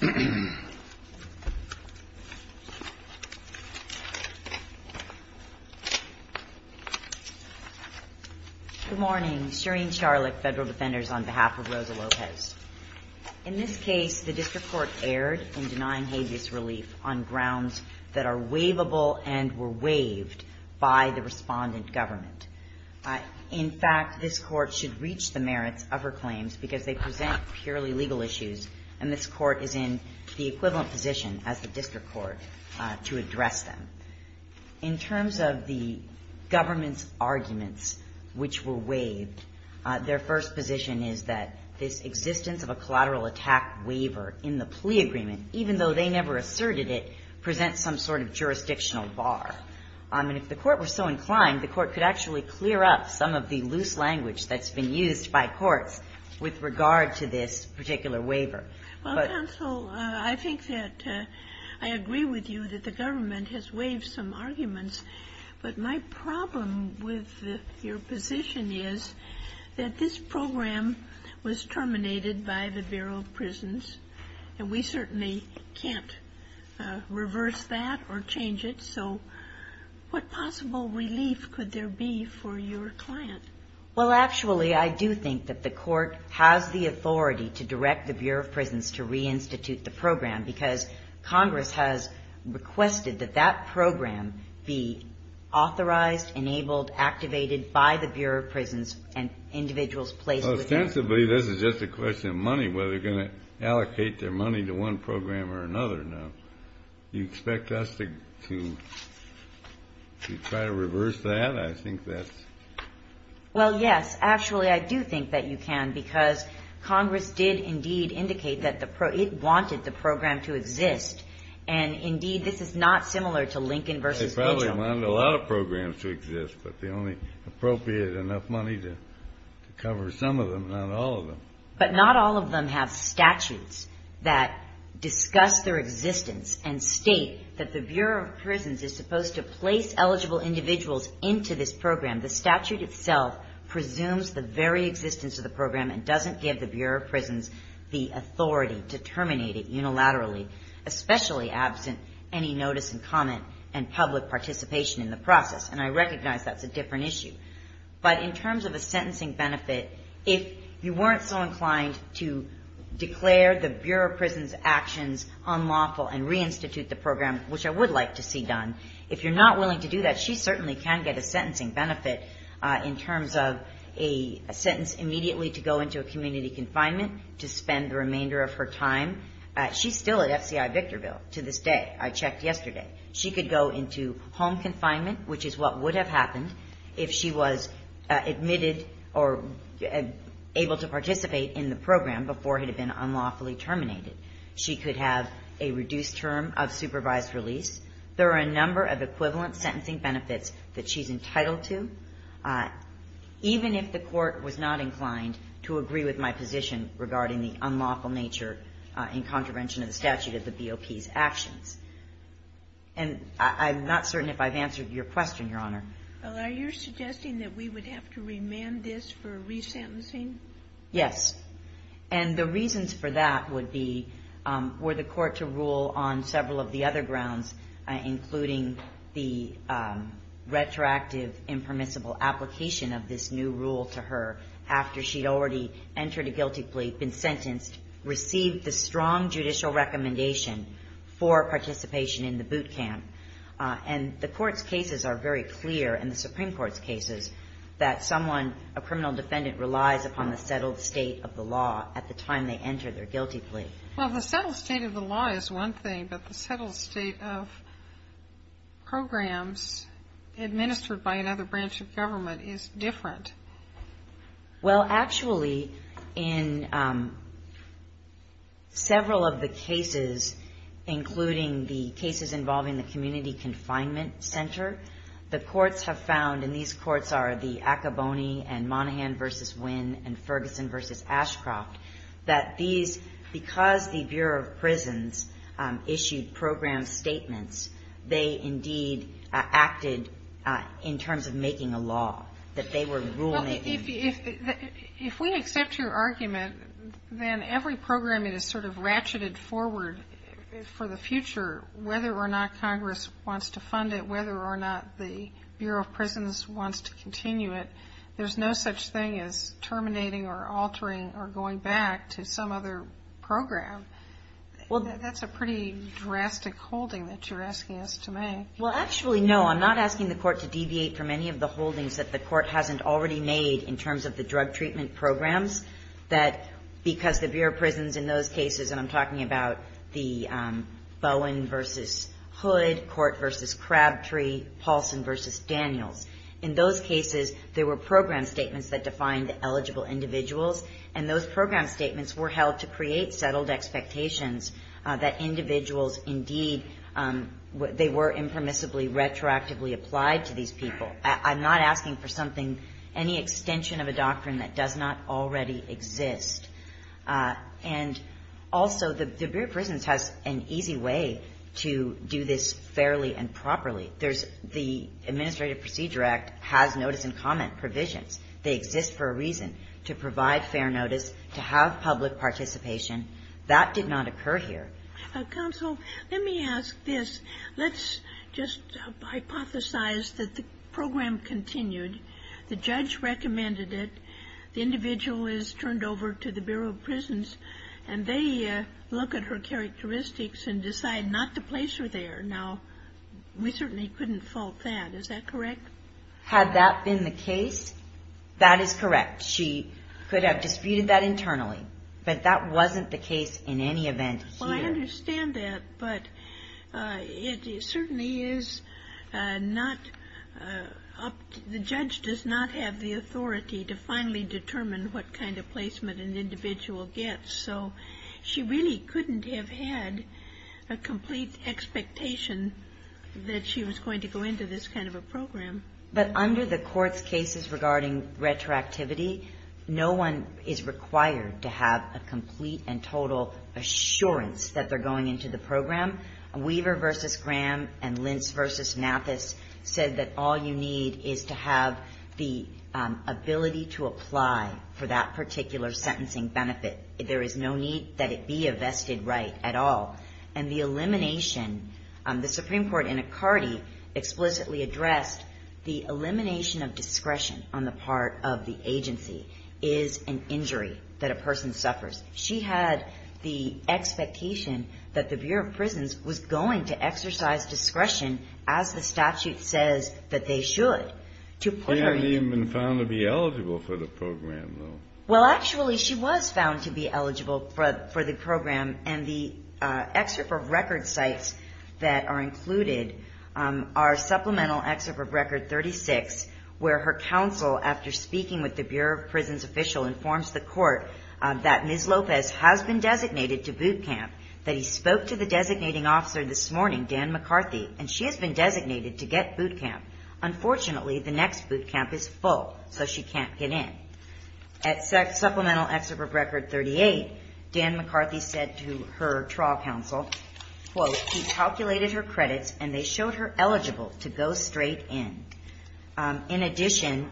Good morning, Shereen Charlotte, Federal Defenders, on behalf of Rosa Lopez. In this case, the District Court erred in denying habeas relief on grounds that are waivable and were waived by the respondent government. In fact, this Court should reach the merits of her claims because they present purely legal issues, and this Court is in the equivalent position as the District Court to address them. In terms of the government's arguments which were waived, their first position is that this existence of a collateral attack waiver in the plea agreement, even though they never asserted it, presents some sort of jurisdictional bar. And if the Court were so inclined, the Court could actually clear up some of the loose language that's been used by courts with regard to this particular waiver. SOTOMAYOR Well, Counsel, I think that I agree with you that the government has waived some arguments, but my problem with your position is that this program was terminated by the Bureau of Prisons. So what possible relief could there be for your client? CHARLOTTE Well, actually, I do think that the Court has the authority to direct the Bureau of Prisons to re-institute the program because Congress has requested that that program be authorized, enabled, activated by the Bureau of Prisons and individuals placed within it. REED Ostensibly, this is just a question of money, whether they're going to allocate their money to try to reverse that. I think that's… CHARLOTTE Well, yes. Actually, I do think that you can because Congress did indeed indicate that it wanted the program to exist. And, indeed, this is not similar to Lincoln v. Mitchell. REED They probably wanted a lot of programs to exist, but the only appropriate enough money to cover some of them, not all of them. have statutes that discuss their existence and state that the Bureau of Prisons is supposed to place eligible individuals into this program. The statute itself presumes the very existence of the program and doesn't give the Bureau of Prisons the authority to terminate it unilaterally, especially absent any notice and comment and public participation in the process. And I recognize that's a different issue. But in terms of a sentencing benefit, if you weren't so inclined to declare the Bureau of Prisons' actions unlawful and reinstitute the program, which I would like to see done, if you're not willing to do that, she certainly can get a sentencing benefit in terms of a sentence immediately to go into a community confinement to spend the remainder of her time. She's still at FCI Victorville to this day. I checked yesterday. She could go into home confinement, which is what would have happened if she was admitted or able to participate in the program before it had been unlawfully terminated. She could have a reduced term of supervised release. There are a number of equivalent sentencing benefits that she's entitled to, even if the Court was not inclined to agree with my position regarding the unlawful nature in contravention of the statute of the BOP's actions. And I'm not certain if I've answered your question, Your Honor. Well, are you suggesting that we would have to remand this for resentencing? Yes. And the reasons for that would be, were the Court to rule on several of the other grounds, including the retroactive impermissible application of this new rule to her after she'd already entered a guilty plea, been sentenced, received the strong judicial recommendation for participation in the boot camp. And the Court's cases are very clear, and the Supreme Court's cases, that someone, a criminal defendant, relies upon the settled state of the law at the time they enter their guilty plea. Well, the settled state of the law is one thing, but the settled state of programs administered by another branch of government is different. Well, actually, in several of the cases, including the cases involving the community confinement center, the courts have found, and these courts are the Acaboni and Monaghan v. Wynn and Ferguson v. Ashcroft, that these, because the Bureau of Prisons issued program statements, they indeed acted in terms of making a law, that they were ruling it in. If we accept your argument, then every program that is sort of ratcheted forward for the future, whether or not Congress wants to fund it, whether or not the Bureau of Prisons wants to continue it, there's no such thing as terminating or altering or going back to some other program. That's a pretty drastic holding that you're asking us to make. Well, actually, no. I'm not asking the Court to deviate from any of the holdings that the Court hasn't already made in terms of the drug treatment programs, that because the Bureau of Prisons in those cases, and I'm talking about the Bowen v. Hood, Court v. Crabtree, Paulson v. Daniels, in those cases, there were program statements that defined eligible individuals, and those program statements were held to create settled expectations that individuals indeed, they were impermissibly retroactively applied to these people. I'm not asking for something, any extension of a doctrine that does not already exist. And also, the Bureau of Prisons has an easy way to do this fairly and properly. The Administrative Procedure Act has notice and comment provisions. They exist for a reason, to provide fair notice, to have public participation. That did not occur here. Counsel, let me ask this. Let's just hypothesize that the program continued, the judge recommended it, the individual is turned over to the Bureau of Prisons, and they look at her characteristics and decide not to place her there. Now, we certainly couldn't fault that. Is that correct? Had that been the case, that is correct. She could have disputed that internally, but that wasn't the case in any event here. Well, I understand that, but it certainly is not up to, the judge does not have the authority to finally determine what kind of placement an individual gets. So, she really couldn't have had a complete expectation that she was going to go into this kind of a program. But under the court's cases regarding retroactivity, no one is required to have a complete and total assurance that they're going into the program. Weaver v. Graham and Lentz v. Nathus said that all you need is to have the ability to apply for that particular sentencing benefit. There is no need that it be a vested right at all. And the elimination, the Supreme Court in a Carty explicitly addressed the elimination of discretion on the part of the agency is an injury that a person suffers. She had the expectation that the Bureau of Prisons was going to exercise discretion as the statute says that they should to put her in. She hadn't even been found to be eligible for the program, though. Well, actually, she was found to be eligible for the program, and the excerpt of record sites that are included are supplemental excerpt of record 36, where her counsel, after speaking with the Bureau of Prisons official, informs the court that Ms. Lopez has been designated to boot camp, that he spoke to the designating officer this morning, Dan McCarthy, and she has been designated to get boot camp. Unfortunately, the next boot camp is full, so she can't get in. At supplemental excerpt of record 38, Dan McCarthy said to her trial counsel, quote, he calculated her credits and they showed her eligible to go straight in. In addition,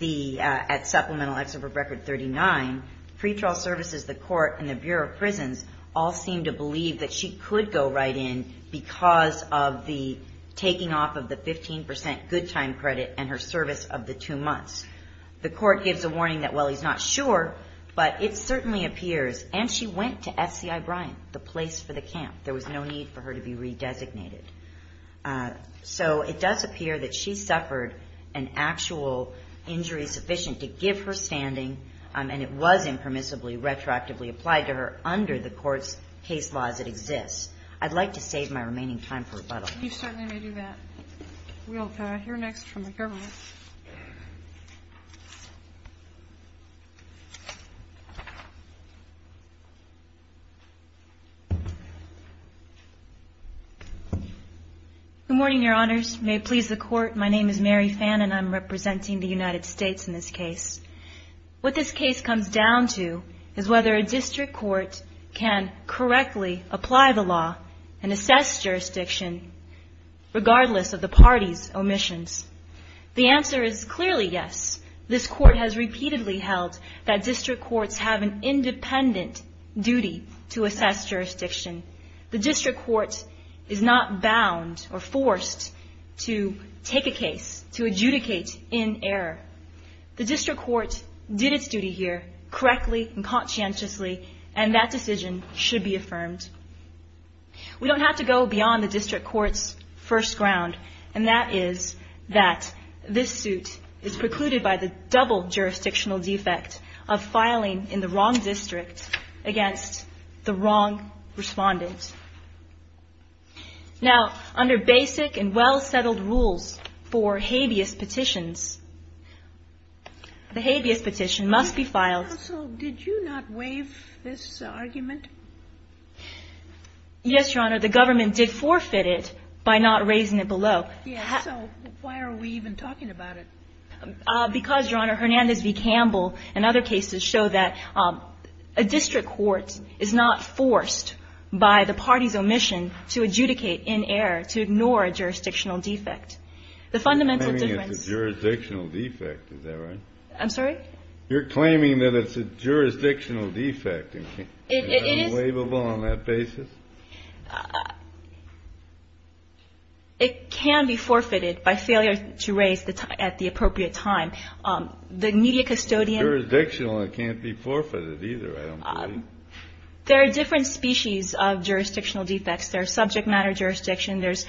at supplemental excerpt of record 39, pretrial services, the court, and the Bureau of Prisons all seem to believe that she could go right in because of the taking off of the 15 percent good time credit and her service of the two months. The court gives a warning that, well, he's not sure, but it certainly appears, and she went to SCI Bryan, the place for the camp. There was no need for her to be redesignated. So it does appear that she suffered an actual injury sufficient to give her standing, and it was impermissibly retroactively applied to her under the court's case laws that exist. I'd like to save my remaining time for rebuttal. You certainly may do that. We'll hear next from the government. Good morning, Your Honors. May it please the Court, my name is Mary Fann, and I'm representing the United States in this case. What this case comes down to is whether a district court can correctly apply the law and assess jurisdiction regardless of the party's omissions. The answer is clearly yes. This court has repeatedly held that district courts have an independent duty to assess jurisdiction. The district court is not bound or forced to take a case, to adjudicate in error. The district court did its duty here correctly and conscientiously, and that decision should be affirmed. We don't have to go beyond the district court's first ground, and that is that this suit is precluded by the double jurisdictional defect of filing in the wrong district against the wrong respondent. Now, under basic and well-settled rules for habeas petitions, the habeas petition must be filed. Counsel, did you not waive this argument? Yes, Your Honor. The government did forfeit it by not raising it below. Yes, so why are we even talking about it? Because, Your Honor, Hernandez v. Campbell and other cases show that a district court is not forced by the party's omission to adjudicate in error, to ignore a jurisdictional defect. The fundamental difference... You're claiming it's a jurisdictional defect. Is that right? I'm sorry? You're claiming that it's a jurisdictional defect. Is it unwaivable on that basis? It can be forfeited by failure to raise at the appropriate time. The media custodian... It's jurisdictional. It can't be forfeited either, I don't believe. There are different species of jurisdictional defects. There's subject matter jurisdiction. There's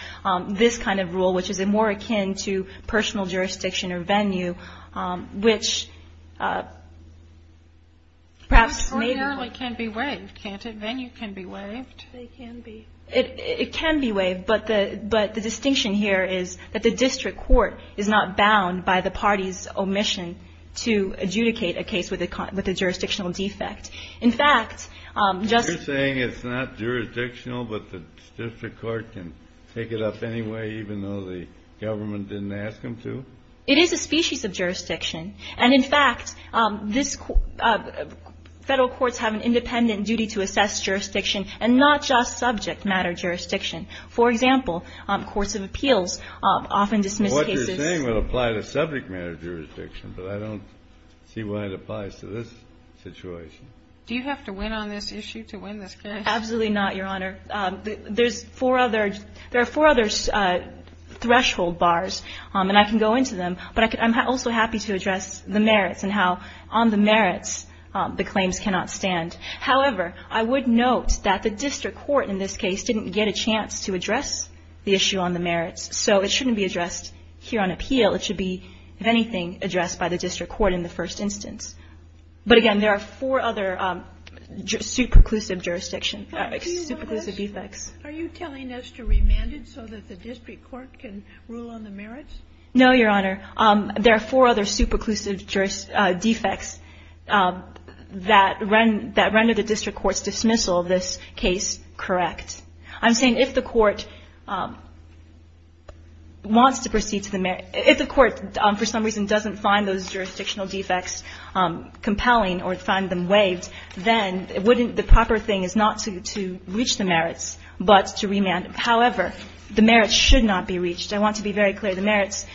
this kind of rule, which is more akin to personal jurisdiction or venue, which perhaps... It ordinarily can be waived, can't it? Venue can be waived. It can be waived, but the distinction here is that the district court is not bound by the party's omission to adjudicate a case with a jurisdictional defect. In fact, just... Take it up anyway, even though the government didn't ask them to? It is a species of jurisdiction. And in fact, this... Federal courts have an independent duty to assess jurisdiction and not just subject matter jurisdiction. For example, courts of appeals often dismiss cases... What you're saying would apply to subject matter jurisdiction, but I don't see why it applies to this situation. Do you have to win on this issue to win this case? Absolutely not, Your Honor. There's four other... There are four other threshold bars, and I can go into them, but I'm also happy to address the merits and how on the merits the claims cannot stand. However, I would note that the district court in this case didn't get a chance to address the issue on the merits, so it shouldn't be addressed here on appeal. It should be, if anything, addressed by the district court in the first instance. But again, there are four other superclusive jurisdiction, superclusive defects. Are you telling us to remand it so that the district court can rule on the merits? No, Your Honor. There are four other superclusive defects that render the district court's dismissal of this case correct. I'm saying if the court wants to proceed to the merits... If the court, for some reason, doesn't find those jurisdictional defects compelling or find them waived, then wouldn't the proper thing is not to reach the merits, but to remand them. However, the merits should not be reached. I want to be very clear. The merits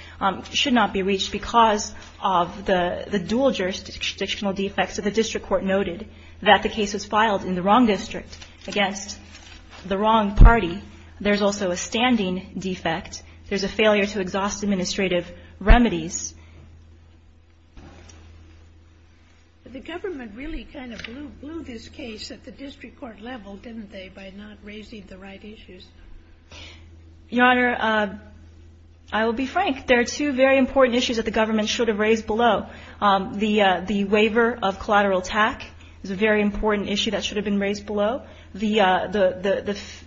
should not be reached because of the dual jurisdictional defects. So the district court noted that the case was filed in the wrong district against the wrong party. There's also a standing defect. There's a failure to exhaust administrative remedies. The government really kind of blew this case at the district court level, didn't they, by not raising the right issues? Your Honor, I will be frank. There are two very important issues that the government should have raised below. The waiver of collateral TAC is a very important issue that should have been raised below. The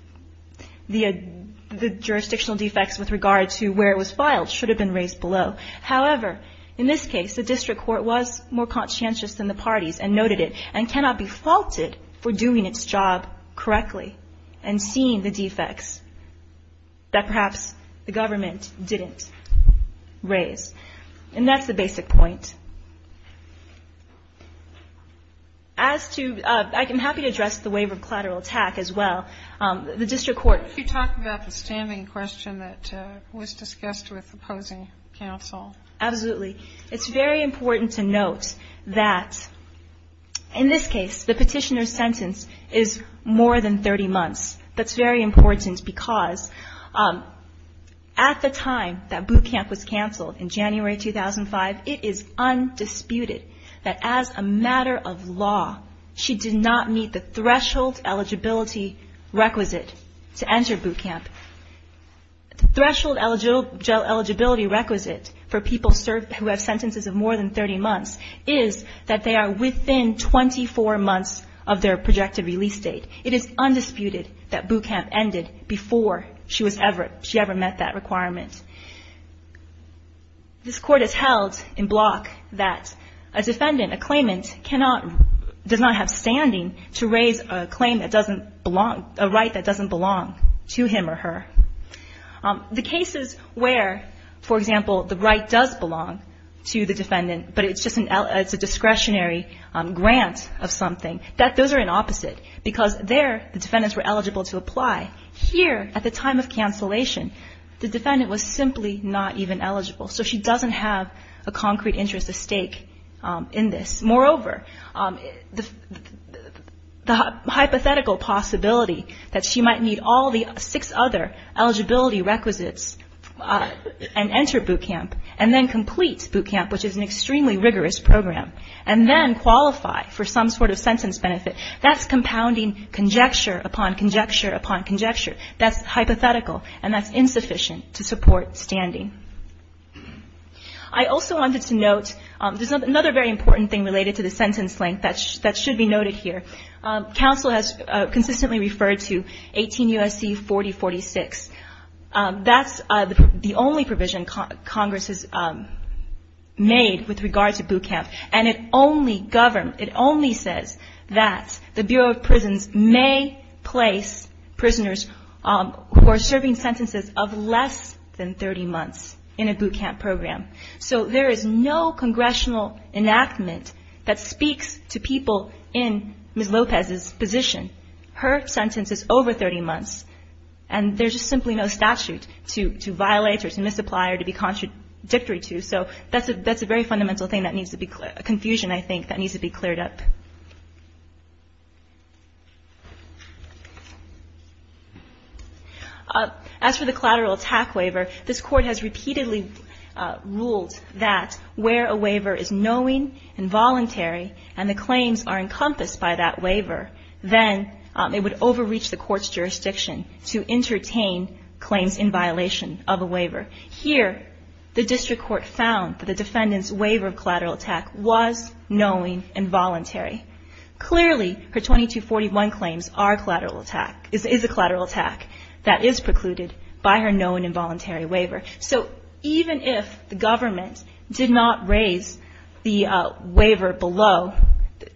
jurisdictional defects with regard to where it was filed should have been raised below. However, in this case, the district court was more conscientious than the parties and noted it and cannot be faulted for doing its job correctly and seeing the defects that perhaps the government didn't raise. And that's the basic point. As to ‑‑ I'm happy to address the waiver of collateral TAC as well. The district court ‑‑ You talked about the standing question that was discussed with opposing counsel. Absolutely. It's very important to note that in this case, the petitioner's sentence is more than 30 months. That's very important because at the time that boot camp was canceled in January 2005, it is undisputed that as a matter of law, she did not meet the threshold eligibility requisite to enter boot camp. The threshold eligibility requisite for people who have sentences of more than 30 months is that they are within 24 months of their projected release date. It is undisputed that boot camp ended before she ever met that requirement. This court has held in block that a defendant, a claimant, cannot ‑‑ does not have standing to raise a claim that doesn't belong, a right that doesn't belong to him or her. The cases where, for example, the right does belong to the defendant but it's just a discretionary grant of something, those are an opposite because there the defendants were eligible to apply. Here, at the time of cancellation, the defendant was simply not even eligible. So she doesn't have a concrete interest at stake in this. Moreover, the hypothetical possibility that she might meet all the six other eligibility requisites and enter boot camp and then complete boot camp, which is an extremely rigorous program, and then qualify for some sort of sentence benefit, that's compounding conjecture upon conjecture upon conjecture. That's hypothetical and that's insufficient to support standing. I also wanted to note, there's another very important thing related to the sentence length that should be noted here. Counsel has consistently referred to 18 U.S.C. 4046. That's the only provision Congress has made with regard to boot camp and it only says that the Bureau of Prisons may place prisoners who are serving sentences of less than 30 months in a boot camp program. So there is no congressional enactment that speaks to people in Ms. Lopez's position. Her sentence is over 30 months and there's just simply no statute to violate or to misapply or to be contradictory to. So that's a very fundamental confusion, I think, that needs to be cleared up. As for the collateral attack waiver, this Court has repeatedly ruled that where a waiver is knowing and voluntary and the claims are encompassed by that waiver, then it would overreach the Court's jurisdiction to entertain claims in violation of a waiver. Here, the district court found that the defendant's waiver of collateral attack was knowing and voluntary. Clearly, her 2241 claims is a collateral attack that is precluded by her knowing and voluntary waiver. So even if the government did not raise the waiver below,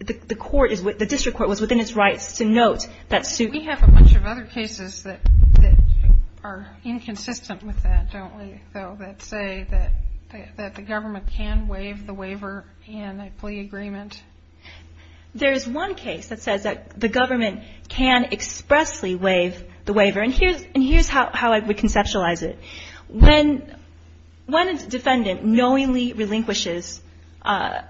the district court was within its rights to note that suit. We have a bunch of other cases that are inconsistent with that, don't we, though, that say that the government can waive the waiver in a plea agreement. There is one case that says that the government can expressly waive the waiver, and here's how I would conceptualize it. When a defendant knowingly relinquishes her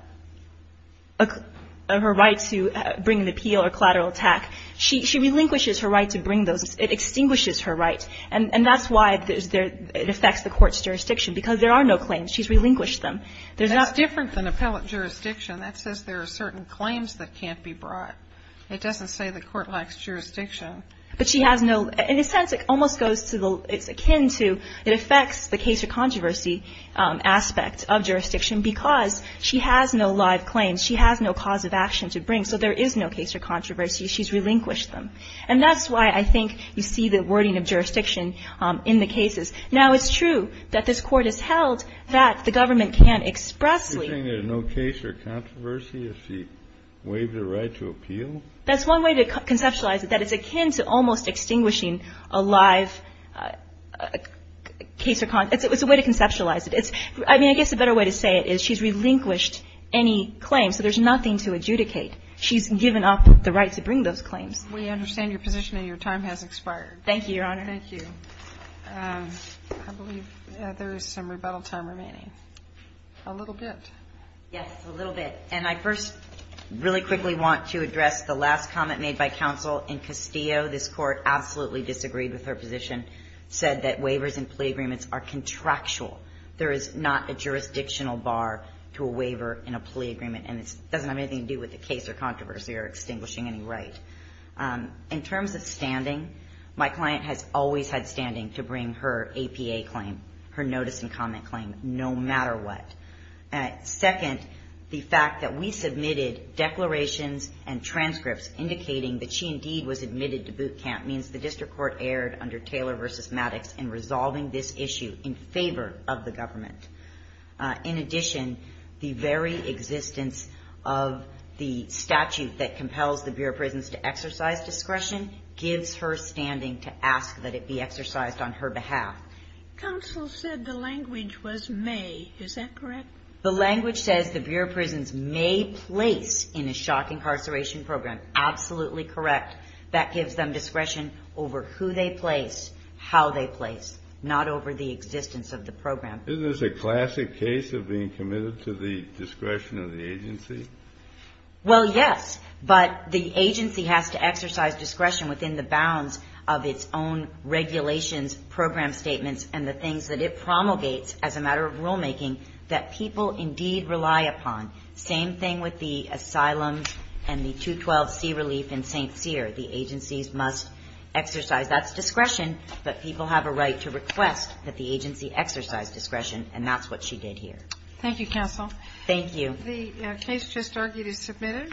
right to bring an appeal or collateral attack, she relinquishes her right to bring those. It extinguishes her right, and that's why it affects the Court's jurisdiction, because there are no claims. She's relinquished them. There's not ---- Sotomayor, that's different than appellate jurisdiction. That says there are certain claims that can't be brought. It doesn't say the Court lacks jurisdiction. But she has no ---- In a sense, it almost goes to the ---- It's akin to it affects the case or controversy aspect of jurisdiction because she has no live claims. She has no cause of action to bring, so there is no case or controversy. She's relinquished them. And that's why I think you see the wording of jurisdiction in the cases. Now, it's true that this Court has held that the government can expressly ---- You're saying there's no case or controversy if she waives her right to appeal? That's one way to conceptualize it, that it's akin to almost extinguishing a live case or controversy. It's a way to conceptualize it. I mean, I guess a better way to say it is she's relinquished any claims, so there's nothing to adjudicate. She's given up the right to bring those claims. We understand your position and your time has expired. Thank you, Your Honor. Thank you. I believe there is some rebuttal time remaining. A little bit. Yes, a little bit. And I first really quickly want to address the last comment made by counsel in Castillo. This Court absolutely disagreed with her position, said that waivers in plea agreements are contractual. There is not a jurisdictional bar to a waiver in a plea agreement, and it doesn't have anything to do with the case or controversy or extinguishing any right. In terms of standing, my client has always had standing to bring her APA claim, her notice and comment claim, no matter what. Second, the fact that we submitted declarations and transcripts indicating that she indeed was admitted to boot camp means the district court erred under Taylor v. Maddox in resolving this issue in favor of the government. In addition, the very existence of the statute that compels the Bureau of Prisons to exercise discretion gives her standing to ask that it be exercised on her behalf. Counsel said the language was may. Is that correct? The language says the Bureau of Prisons may place in a shock incarceration program. Absolutely correct. That gives them discretion over who they place, how they place, not over the existence of the program. Isn't this a classic case of being committed to the discretion of the agency? Well, yes, but the agency has to exercise discretion within the bounds of its own regulations, program statements, and the things that it promulgates as a matter of rulemaking that people indeed rely upon. Same thing with the asylums and the 212C relief in St. Cyr. The agencies must exercise that discretion, but people have a right to request that the agency exercise discretion, and that's what she did here. Thank you, Counsel. Thank you. The case just argued is submitted.